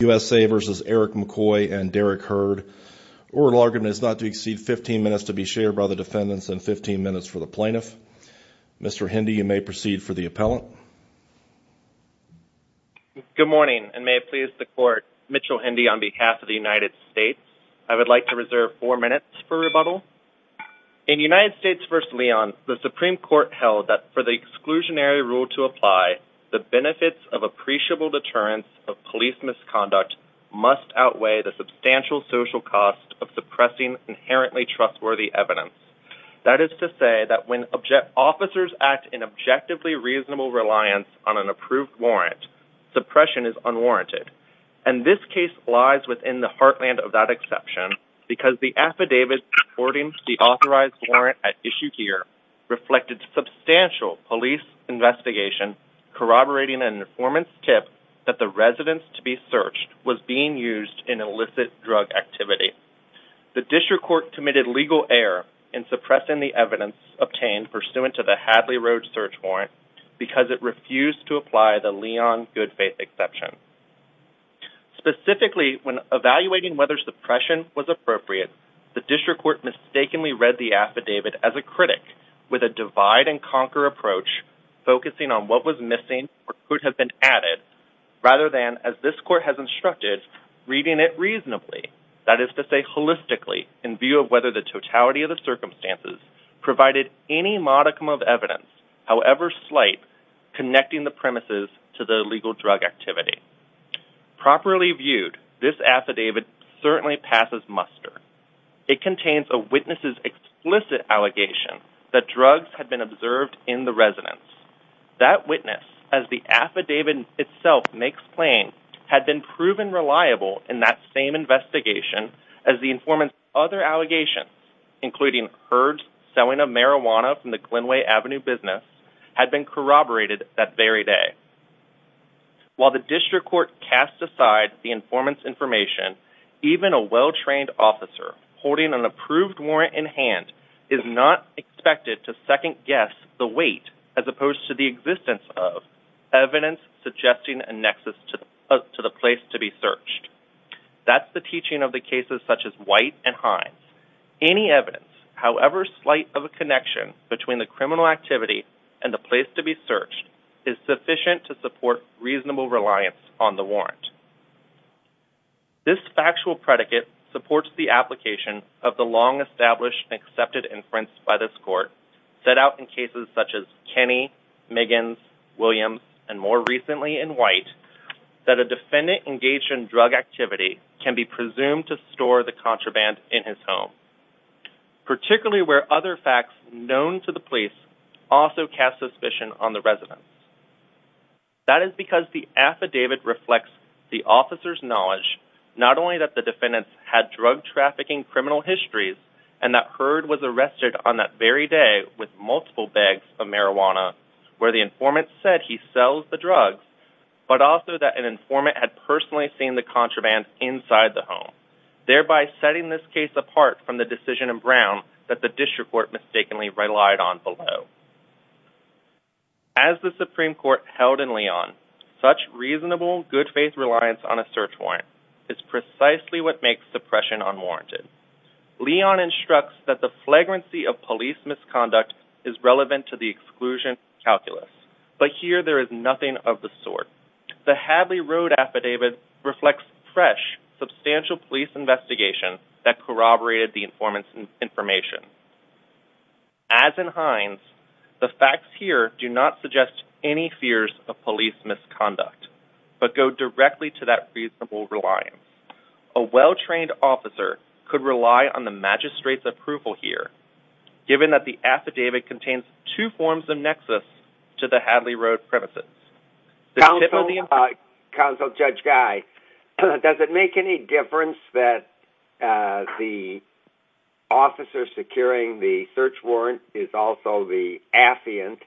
U.S.A. v. Erik McCoy and Derek Hurd. Oral argument is not to exceed 15 minutes to be shared by the defendants and 15 minutes for the plaintiff. Mr. Hindi, you may proceed for the appellant. Good morning, and may it please the Court, Mitchell Hindi on behalf of the United States, I would like to reserve four minutes for rebuttal. In United States v. Leon, the Supreme Court held that for the exclusionary rule to apply the benefits of appreciable deterrence of police misconduct must outweigh the substantial social cost of suppressing inherently trustworthy evidence. That is to say that when officers act in objectively reasonable reliance on an approved warrant, suppression is unwarranted. And this case lies within the heartland of that exception because the affidavit supporting the authorized warrant at issue here reflected substantial police investigation corroborating an informant's tip that the residence to be searched was being used in illicit drug activity. The district court committed legal error in suppressing the evidence obtained pursuant to the Hadley Road search warrant because it refused to apply the Leon good faith exception. Specifically, when evaluating whether suppression was appropriate, the district court mistakenly read the affidavit as a critic with a divide and conquer approach focusing on what was missing or could have been added rather than, as this court has instructed, reading it reasonably. That is to say holistically in view of whether the totality of the circumstances provided any modicum of evidence, however slight, connecting the premises to the illegal drug activity. Properly viewed, this affidavit certainly passes muster. It contains a witness's explicit allegation that drugs had been observed in the residence. That witness, as the affidavit itself makes plain, had been proven reliable in that same allegations, including herds selling of marijuana from the Glenway Avenue business, had been corroborated that very day. While the district court cast aside the informant's information, even a well-trained officer holding an approved warrant in hand is not expected to second guess the weight as opposed to the existence of evidence suggesting a nexus to the place to be searched. That's the teaching of the cases such as White and Hines. Any evidence, however slight of a connection between the criminal activity and the place to be searched, is sufficient to support reasonable reliance on the warrant. This factual predicate supports the application of the long-established and accepted inference by this court set out in cases such as Kenny, Miggins, Williams, and more recently in White that a defendant engaged in drug activity can be presumed to store the contraband in his home, particularly where other facts known to the police also cast suspicion on the residence. That is because the affidavit reflects the officer's knowledge not only that the defendants had drug-trafficking criminal histories and that Herd was arrested on that very day with but also that an informant had personally seen the contraband inside the home, thereby setting this case apart from the decision in Brown that the district court mistakenly relied on below. As the Supreme Court held in Leon, such reasonable good-faith reliance on a search warrant is precisely what makes suppression unwarranted. Leon instructs that the flagrancy of police misconduct is relevant to the exclusion calculus, but here there is nothing of the sort. The Hadley Road affidavit reflects fresh, substantial police investigation that corroborated the informant's information. As in Hines, the facts here do not suggest any fears of police misconduct, but go directly to that reasonable reliance. A well-trained officer could rely on the magistrate's approval here, given that the affidavit contains two forms of nexus to the Hadley Road premises. Counsel Judge Guy, does it make any difference that the officer securing the search warrant is also the affiant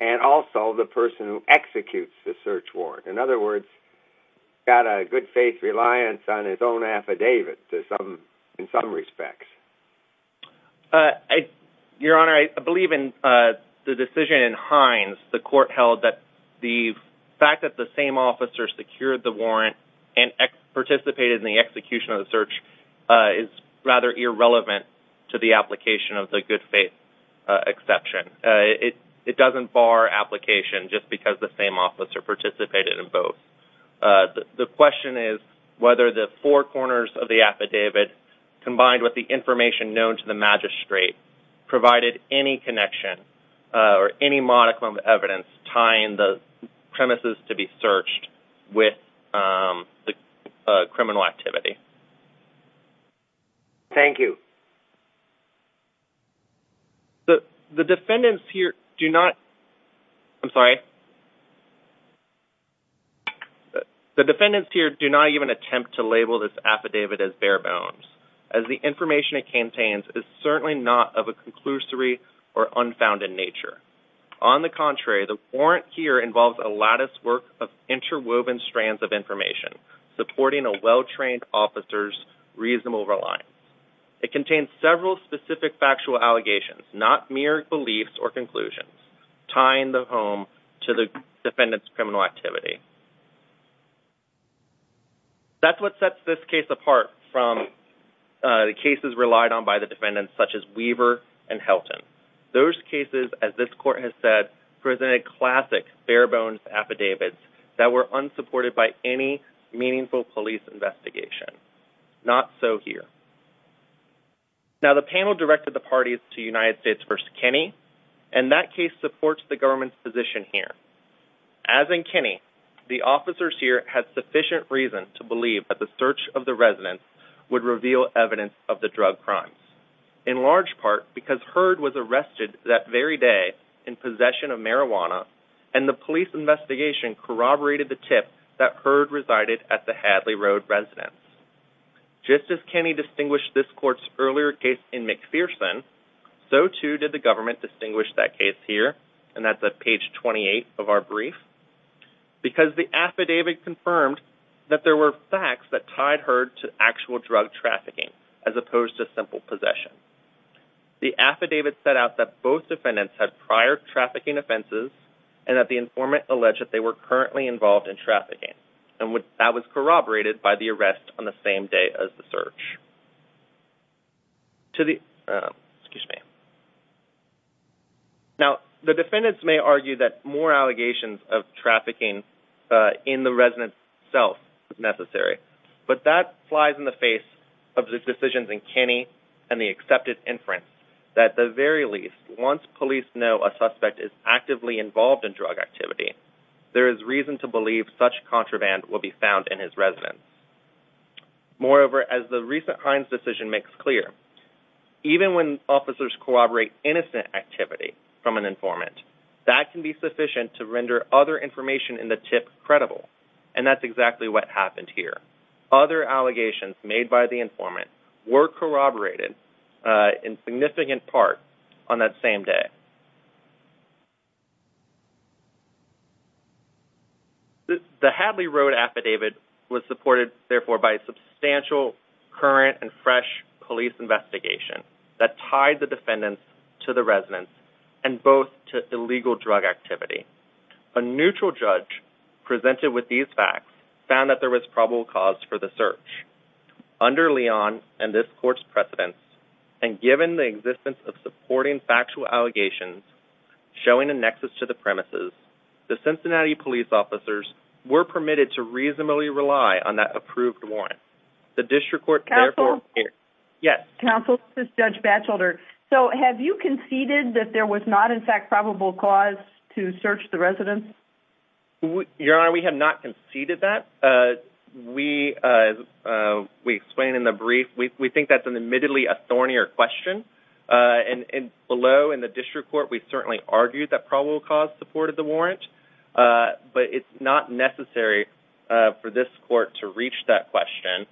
and also the person who executes the search warrant? In other words, he's got a good-faith reliance on his own affidavit in some respects. Your Honor, I believe in the decision in Hines, the court held that the fact that the same officer secured the warrant and participated in the execution of the search is rather irrelevant to the application of the good-faith exception. It doesn't bar application just because the same officer participated in both. The question is whether the four corners of the affidavit, combined with the information known to the magistrate, provided any connection or any modicum of evidence tying the premises to be searched with the criminal activity. Thank you. The defendants here do not... I'm sorry? The defendants here do not even attempt to label this affidavit as bare bones, as the information it contains is certainly not of a conclusory or unfounded nature. On the contrary, the warrant here involves a latticework of interwoven strands of information supporting a well-trained officer's reasonable reliance. It contains several specific factual allegations, not mere beliefs or conclusions, tying the defendants' criminal activity. That's what sets this case apart from the cases relied on by the defendants, such as Weaver and Helton. Those cases, as this court has said, presented classic bare-bones affidavits that were unsupported by any meaningful police investigation. Not so here. Now, the panel directed the parties to United States v. Kenney, and that case supports the As in Kenney, the officers here had sufficient reason to believe that the search of the residence would reveal evidence of the drug crimes, in large part because Hurd was arrested that very day in possession of marijuana, and the police investigation corroborated the tip that Hurd resided at the Hadley Road residence. Just as Kenney distinguished this court's earlier case in McPherson, so too did the page 28 of our brief, because the affidavit confirmed that there were facts that tied Hurd to actual drug trafficking, as opposed to simple possession. The affidavit set out that both defendants had prior trafficking offenses, and that the informant alleged that they were currently involved in trafficking, and that was corroborated by the arrest on the same day as the search. Now, the defendants may argue that more allegations of trafficking in the residence itself is necessary, but that flies in the face of the decisions in Kenney and the accepted inference that at the very least, once police know a suspect is actively involved in drug activity, there is reason to believe such contraband will be found in his residence. Moreover, as the recent Hines decision makes clear, even when officers corroborate innocent activity from an informant, that can be sufficient to render other information in the tip credible, and that's exactly what happened here. Other allegations made by the informant were corroborated in significant part on that same day. The Hadley Road affidavit was supported, therefore, by a substantial current and fresh police investigation that tied the defendants to the residence, and both to illegal drug activity. A neutral judge presented with these facts found that there was probable cause for the search. Under Leon and this court's precedence, and given the existence of supporting factual allegations showing a nexus to the premises, the Cincinnati police officers were permitted to reasonably rely on that approved warrant. The district court therefore- Counsel? Yes? Counsel, this is Judge Batchelder. So, have you conceded that there was not, in fact, probable cause to search the residence? Your Honor, we have not conceded that. We, as we explained in the brief, we think that's admittedly a thornier question, and below in the district court, we certainly argued that probable cause supported the warrant, but it's not necessary for this court to reach that question,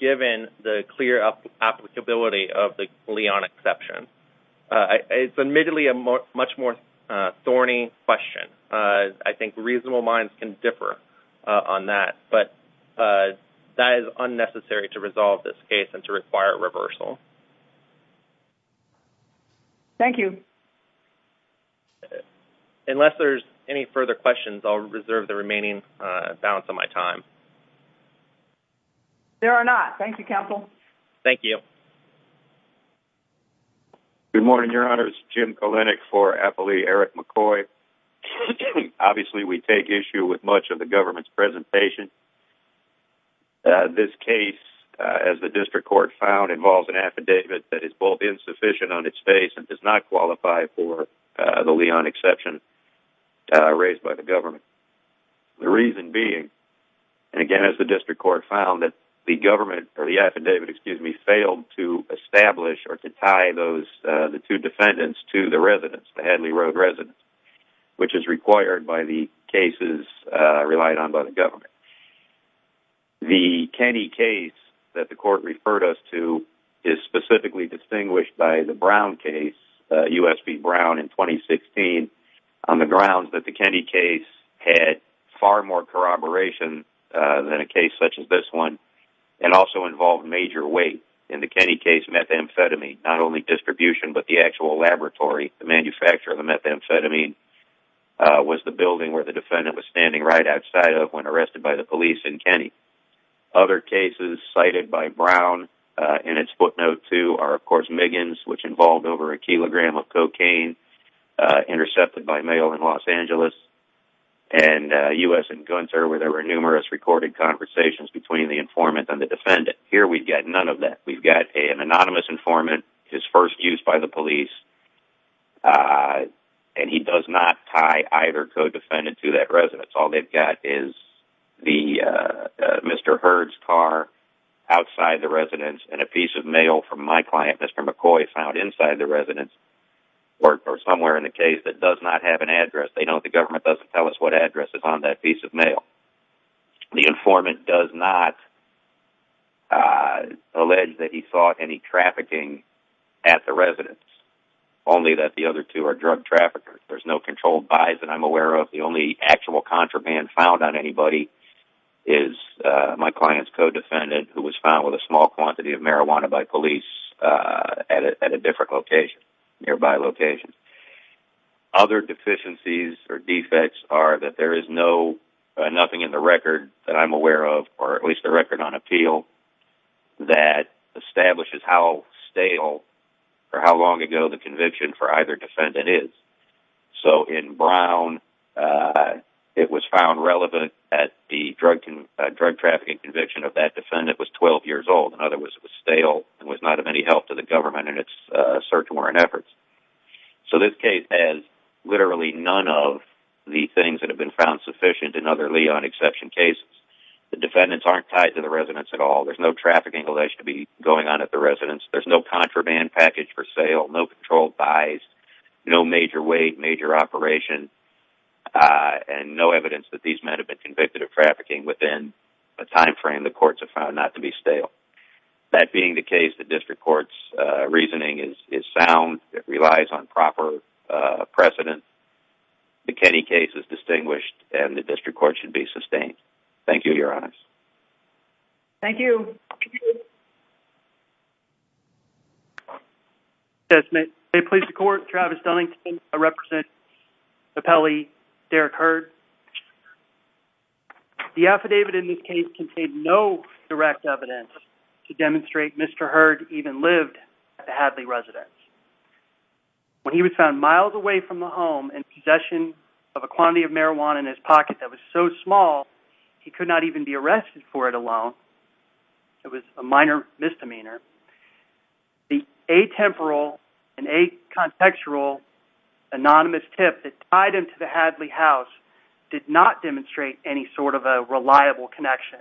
given the clear applicability of the Leon exception. It's admittedly a much more thorny question. I think reasonable minds can differ on that, but that is unnecessary to resolve this case and to require a reversal. Thank you. Unless there's any further questions, I'll reserve the remaining balance of my time. There are not. Thank you, Counsel. Thank you. Good morning, Your Honor. This is Jim Kalenick for appellee Eric McCoy. Obviously, we take issue with much of the government's presentation. This case, as the district court found, involves an affidavit that is both insufficient on its face and does not qualify for the Leon exception raised by the government. The reason being, and again, as the district court found, that the government, or the affidavit, failed to establish or to tie the two defendants to the residents, the Hadley Road residents, which is required by the cases relied on by the government. The Kenny case that the court referred us to is specifically distinguished by the Brown case, U.S. v. Brown, in 2016, on the grounds that the Kenny case had far more corroboration than a case such as this one and also involved major weight. In the Kenny case, methamphetamine, not only distribution but the actual laboratory, the manufacturer of the methamphetamine, was the building where the defendant was standing right outside of when arrested by the police in Kenny. Other cases cited by Brown in its footnote too are, of course, Miggins, which involved over a kilogram of cocaine intercepted by mail in Los Angeles, and U.S. v. Gunther where there were numerous recorded conversations between the informant and the defendant. Here we've got none of that. We've got an anonymous informant, his first use by the police, and he does not tie either co-defendant to that resident. All they've got is the Mr. Hurd's car outside the residence and a piece of mail from my client, Mr. McCoy, found inside the residence or somewhere in the case that does not have an address. They know the government doesn't tell us what address is on that piece of mail. The informant does not allege that he saw any trafficking at the residence, only that the other two are drug traffickers. There's no controlled buys that I'm aware of. The only actual contraband found on anybody is my client's co-defendant, who was found with a small quantity of marijuana by police at a different location, nearby location. Other deficiencies or defects are that there is nothing in the record that I'm aware of, or at least the record on appeal, that establishes how stale or how long ago the conviction for either defendant is. In Brown, it was found relevant that the drug trafficking conviction of that defendant was 12 years old. In other words, it was stale and was not of any help to the government in its search warrant efforts. So this case has literally none of the things that have been found sufficient in other Leon exception cases. The defendants aren't tied to the residence at all. There's no trafficking alleged to be going on at the residence. There's no contraband package for sale, no controlled buys, no major weight, major operation, and no evidence that these men have been convicted of trafficking within a timeframe the courts have found not to be stale. So that being the case, the district court's reasoning is sound. It relies on proper precedent. The Kenny case is distinguished, and the district court should be sustained. Thank you, Your Honors. Thank you. May it please the court, Travis Dunnington, I represent the appellee, Derek Hurd. The affidavit in this case contained no direct evidence to demonstrate Mr. Hurd even lived at the Hadley residence. When he was found miles away from the home in possession of a quantity of marijuana in his pocket that was so small, he could not even be arrested for it alone. It was a minor misdemeanor. The atemporal and acontextual anonymous tip that tied him to the Hadley house did not demonstrate any sort of a reliable connection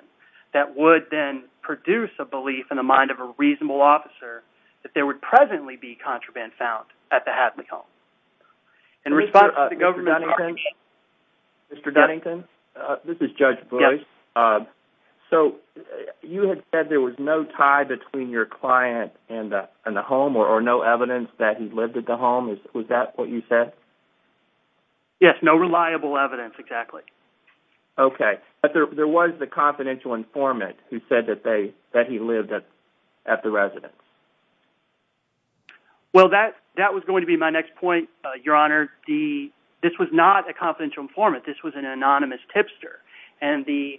that would then produce a belief in the mind of a reasonable officer that there would presently be contraband found at the Hadley home. In response to the government, Mr. Dunnington? This is Judge Boyce. So you had said there was no tie between your client and the home, or no evidence that he lived at the home. Was that what you said? Yes, no reliable evidence, exactly. Okay. But there was the confidential informant who said that he lived at the residence. Well, that was going to be my next point, Your Honor. This was not a confidential informant. This was an anonymous tipster. And the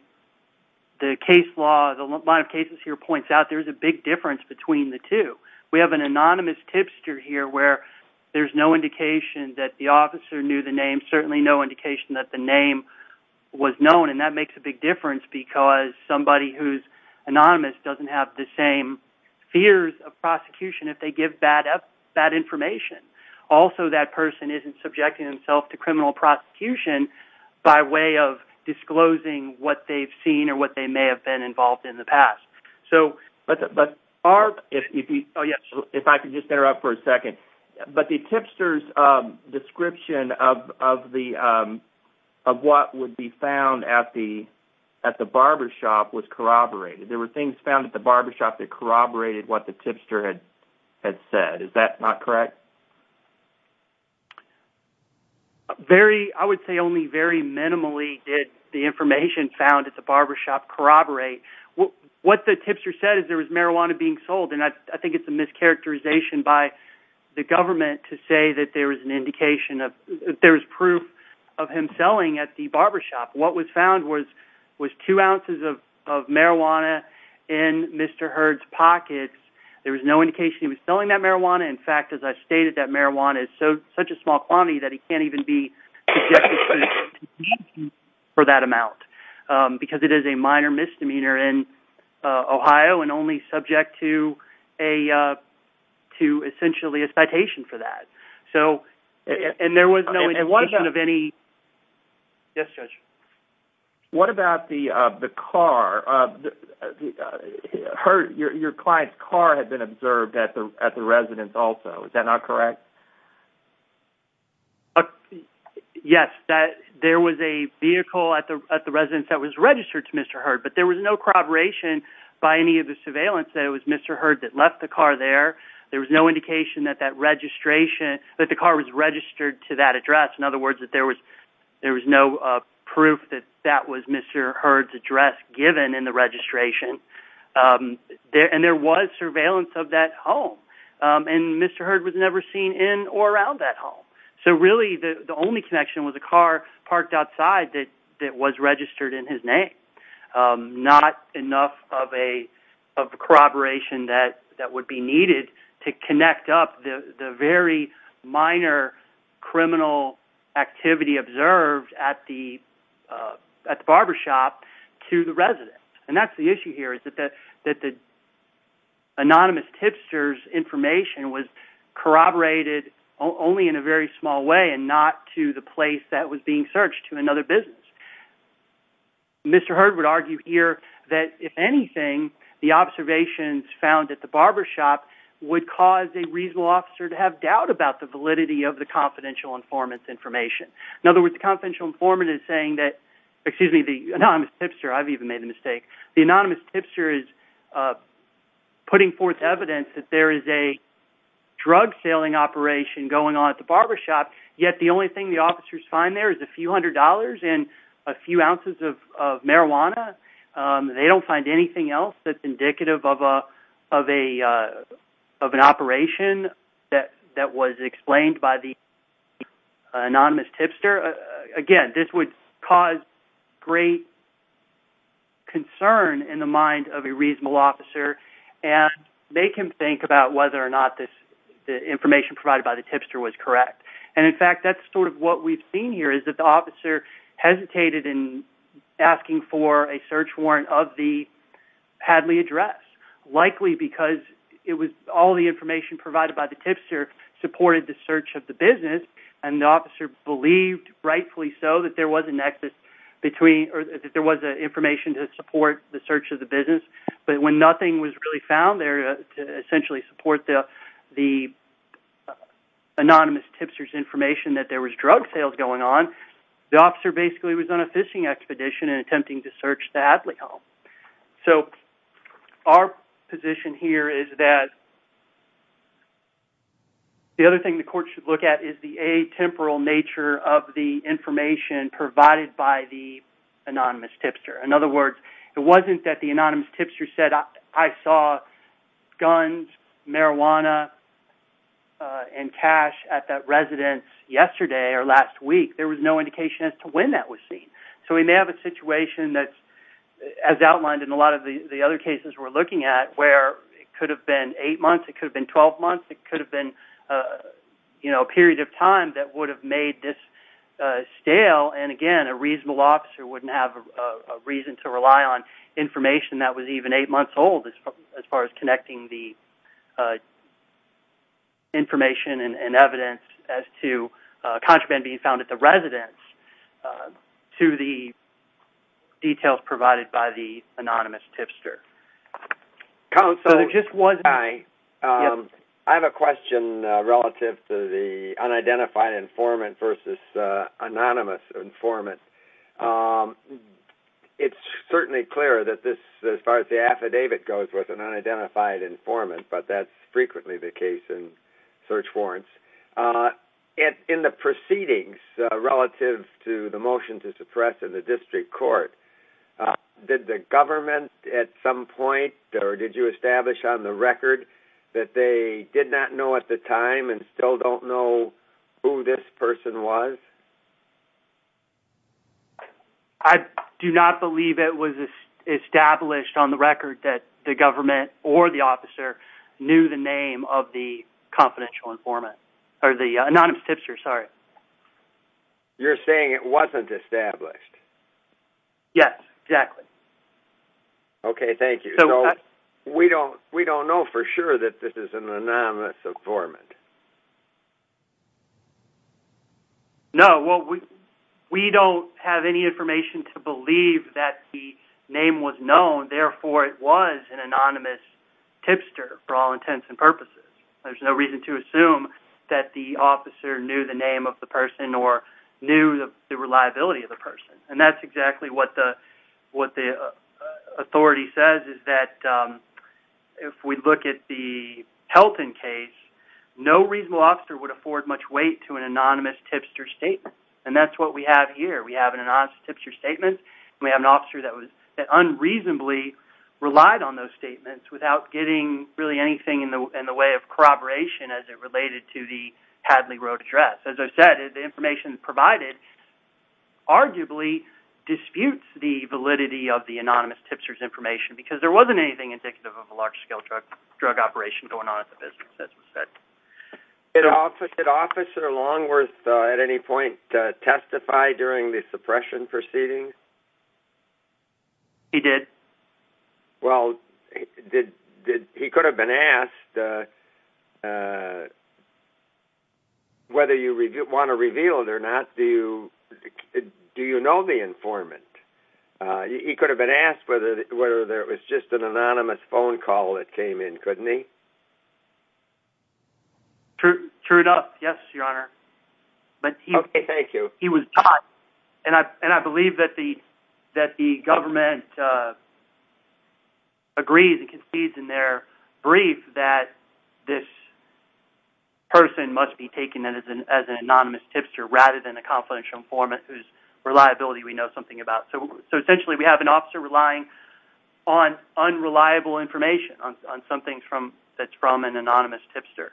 case law, the line of cases here points out there's a big difference between the two. We have an anonymous tipster here where there's no indication that the officer knew the name, certainly no indication that the name was known, and that makes a big difference because somebody who's anonymous doesn't have the same fears of prosecution if they give bad information. Also, that person isn't subjecting himself to criminal prosecution by way of disclosing what they've seen or what they may have been involved in the past. But, Barb, if I could just interrupt for a second. But the tipster's description of what would be found at the barbershop was corroborated. There were things found at the barbershop that corroborated what the tipster had said. Is that not correct? I would say only very minimally did the information found at the barbershop corroborate. What the tipster said is there was marijuana being sold, and I think it's a mischaracterization by the government to say that there's proof of him selling at the barbershop. What was found was two ounces of marijuana in Mr. Hurd's pockets. There was no indication he was selling that marijuana. In fact, as I stated, that marijuana is such a small quantity that he can't even be subjected to prosecution for that amount because it is a minor misdemeanor in Ohio and only subject to essentially a citation for that. And there was no indication of any... Yes, Judge. What about the car? Your client's car had been observed at the residence also. Is that not correct? Yes, there was a vehicle at the residence that was registered to Mr. Hurd, but there was no corroboration by any of the surveillance that it was Mr. Hurd that left the car there. There was no indication that that registration, that the car was registered to that address. In other words, there was no proof that that was Mr. Hurd's address given in the registration. And there was surveillance of that home, and Mr. Hurd was never seen in or around that home. So really the only connection was a car parked outside that was registered in his name. Not enough of a corroboration that would be needed to connect up the very minor criminal activity observed at the barbershop to the residence. And that's the issue here is that the anonymous tipster's information was corroborated only in a very small way and not to the place that was being searched, to another business. Mr. Hurd would argue here that if anything, the observations found at the barbershop would cause a reasonable officer to have doubt about the validity of the confidential informant's information. In other words, the confidential informant is saying that, excuse me, the anonymous tipster, I've even made a mistake, the anonymous tipster is putting forth evidence that there is a drug-saling operation going on at the barbershop, yet the only thing the officers find there is a few hundred dollars and a few ounces of marijuana. They don't find anything else that's indicative of an operation that was explained by the anonymous tipster. Again, this would cause great concern in the mind of a reasonable officer, and make him think about whether or not the information provided by the tipster was correct. And in fact, that's sort of what we've seen here, is that the officer hesitated in asking for a search warrant of the Hadley address, likely because all the information provided by the tipster supported the search of the business, and the officer believed, rightfully so, that there was an information to support the search of the business. But when nothing was really found there to essentially support the anonymous tipster's information that there was drug sales going on, the officer basically was on a fishing expedition and attempting to search the Hadley home. So our position here is that the other thing the court should look at is the atemporal nature of the information provided by the anonymous tipster. In other words, it wasn't that the anonymous tipster said, I saw guns, marijuana, and cash at that residence yesterday or last week. There was no indication as to when that was seen. So we may have a situation that, as outlined in a lot of the other cases we're looking at, where it could have been eight months, it could have been 12 months, it could have been a period of time that would have made this stale, and, again, a reasonable officer wouldn't have a reason to rely on information that was even eight months old as far as connecting the information and evidence as to contraband being found at the residence to the details provided by the anonymous tipster. Counsel, I have a question relative to the unidentified informant versus anonymous informant. It's certainly clear that as far as the affidavit goes with an unidentified informant, but that's frequently the case in search warrants. In the proceedings relative to the motion to suppress in the district court, did the government at some point or did you establish on the record that they did not know at the time and still don't know who this person was? I do not believe it was established on the record that the government or the officer knew the name of the confidential informant, or the anonymous tipster, sorry. You're saying it wasn't established? Yes, exactly. Okay, thank you. We don't know for sure that this is an anonymous informant. No, we don't have any information to believe that the name was known, therefore it was an anonymous tipster for all intents and purposes. There's no reason to assume that the officer knew the name of the person or knew the reliability of the person. And that's exactly what the authority says, is that if we look at the Pelton case, no reasonable officer would afford much weight to an anonymous tipster statement. And that's what we have here. We have an anonymous tipster statement, and we have an officer that unreasonably relied on those statements without getting really anything in the way of corroboration as it related to the Hadley Road address. As I've said, the information provided arguably disputes the validity of the anonymous tipster's information, because there wasn't anything indicative of a large-scale drug operation going on at the business, as was said. Did Officer Longworth at any point testify during the suppression proceedings? He did. Well, he could have been asked whether you want to reveal it or not, do you know the informant? He could have been asked whether it was just an anonymous phone call that came in, couldn't he? True enough, yes, Your Honor. Okay, thank you. And I believe that the government agrees and concedes in their brief that this person must be taken as an anonymous tipster rather than a confidential informant whose reliability we know something about. So essentially we have an officer relying on unreliable information, on something that's from an anonymous tipster.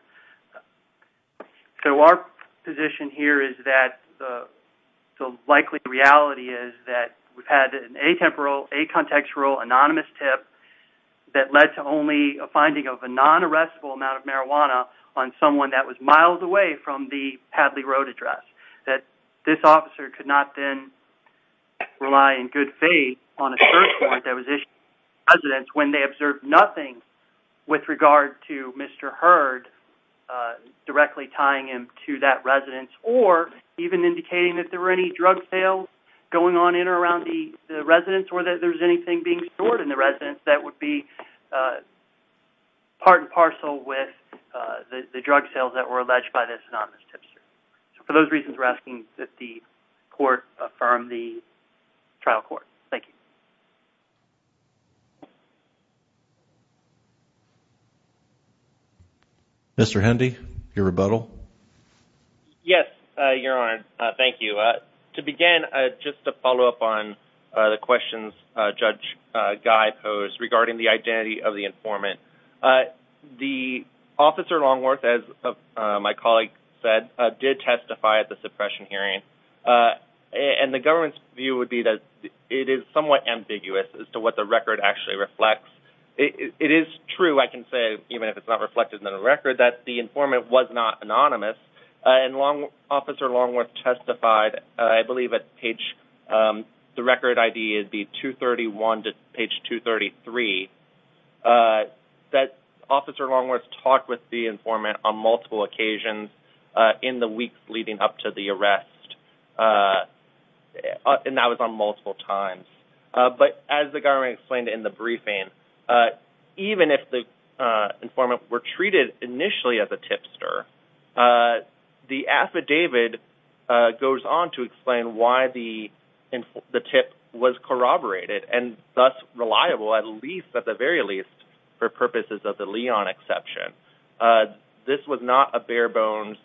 So our position here is that the likely reality is that we've had an atemporal, acontextual, anonymous tip that led to only a finding of a non-arrestable amount of marijuana on someone that was miles away from the Hadley Road address, that this officer could not then rely in good faith on a search warrant that was issued to residents when they observed nothing with regard to Mr. Hurd directly tying him to that residence or even indicating that there were any drug sales going on in or around the residence or that there's anything being stored in the residence that would be part and parcel with the drug sales that were alleged by this anonymous tipster. So for those reasons, we're asking that the court affirm the trial court. Thank you. Mr. Hendy, your rebuttal. Yes, Your Honor. Thank you. To begin, just to follow up on the questions Judge Guy posed regarding the identity of the informant, the officer Longworth, as my colleague said, did testify at the suppression hearing, and the government's view would be that it is somewhat ambiguous as to what the record actually reflects. It is true, I can say, even if it's not reflected in the record, that the informant was not anonymous, and Officer Longworth testified, I believe at page, the record ID would be 231 to page 233, that Officer Longworth talked with the informant on multiple occasions in the weeks leading up to the arrest, and that was on multiple times. But as the government explained in the briefing, even if the informant were treated initially as a tipster, the affidavit goes on to explain why the tip was corroborated and thus reliable, at least, at the very least, for purposes of the Leon exception. This was not a bare-bones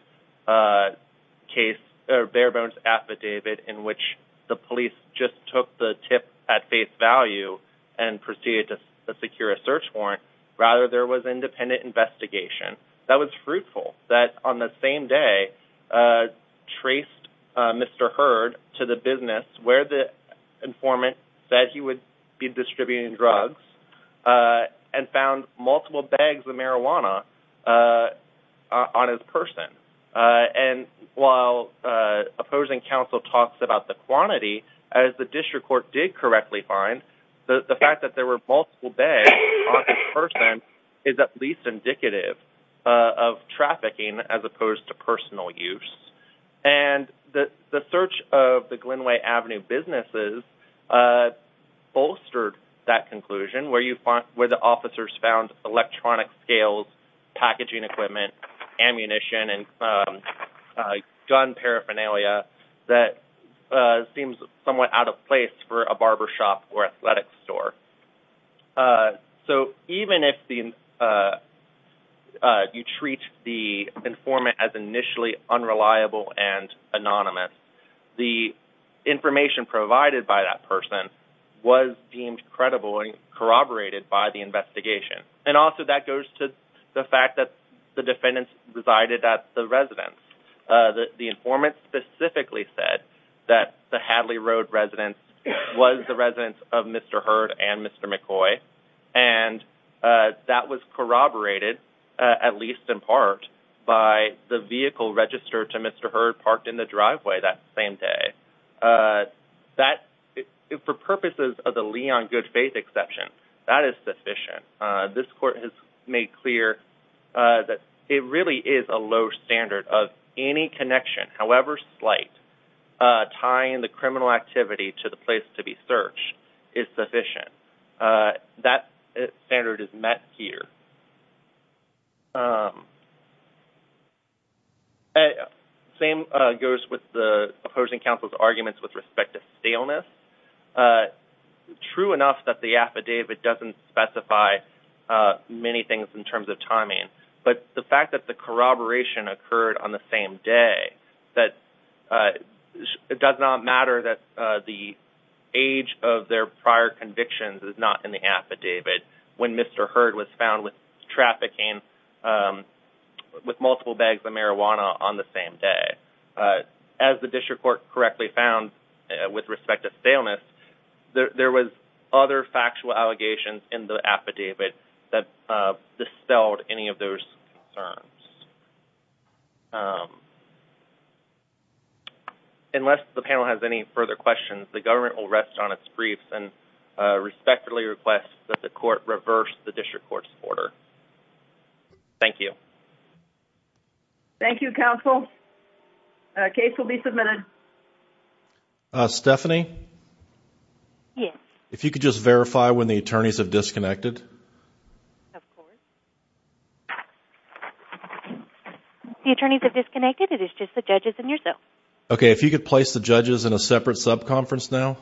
affidavit in which the police just took the tip at face value and proceeded to secure a search warrant. Rather, there was independent investigation that was fruitful, that on the same day traced Mr. Hurd to the business where the informant said he would be distributing drugs and found multiple bags of marijuana on his person. And while opposing counsel talks about the quantity, as the district court did correctly find, the fact that there were multiple bags on his person is at least indicative of trafficking as opposed to personal use. And the search of the Glenway Avenue businesses bolstered that conclusion, where the officers found electronic scales, packaging equipment, ammunition, and gun paraphernalia that seemed somewhat out of place for a barbershop or athletic store. So even if you treat the informant as initially unreliable and anonymous, the information provided by that person was deemed credible and corroborated by the investigation. And also that goes to the fact that the defendants resided at the residence. The informant specifically said that the Hadley Road residence was the residence of Mr. Hurd and Mr. McCoy, and that was corroborated, at least in part, by the vehicle registered to Mr. Hurd parked in the driveway that same day. That, for purposes of the Leon good faith exception, that is sufficient. This court has made clear that it really is a low standard of any connection, however slight, tying the criminal activity to the place to be searched is sufficient. That standard is met here. Same goes with the opposing counsel's arguments with respect to staleness. True enough that the affidavit doesn't specify many things in terms of timing, but the fact that the corroboration occurred on the same day, that it does not matter that the age of their prior convictions is not in the affidavit when Mr. Hurd was found with trafficking with multiple bags of marijuana on the same day. As the district court correctly found with respect to staleness, there was other factual allegations in the affidavit that dispelled any of those concerns. Unless the panel has any further questions, the government will rest on its griefs and respectfully request that the court reverse the district court's order. Thank you. Thank you, counsel. A case will be submitted. Stephanie? Yes. If you could just verify when the attorneys have disconnected. Of course. The attorneys have disconnected, it is just the judges and yourself. Okay, if you could place the judges in a separate sub-conference now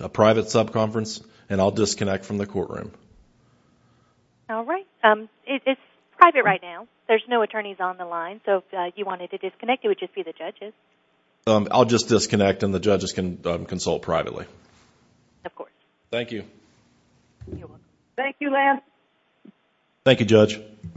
a private sub-conference, and I'll disconnect from the courtroom. All right. It's private right now. There's no attorneys on the line, so if you wanted to disconnect, it would just be the judges. I'll just disconnect and the judges can consult privately. Of course. Thank you. Thank you, Lance. Thank you, Judge. Thank you.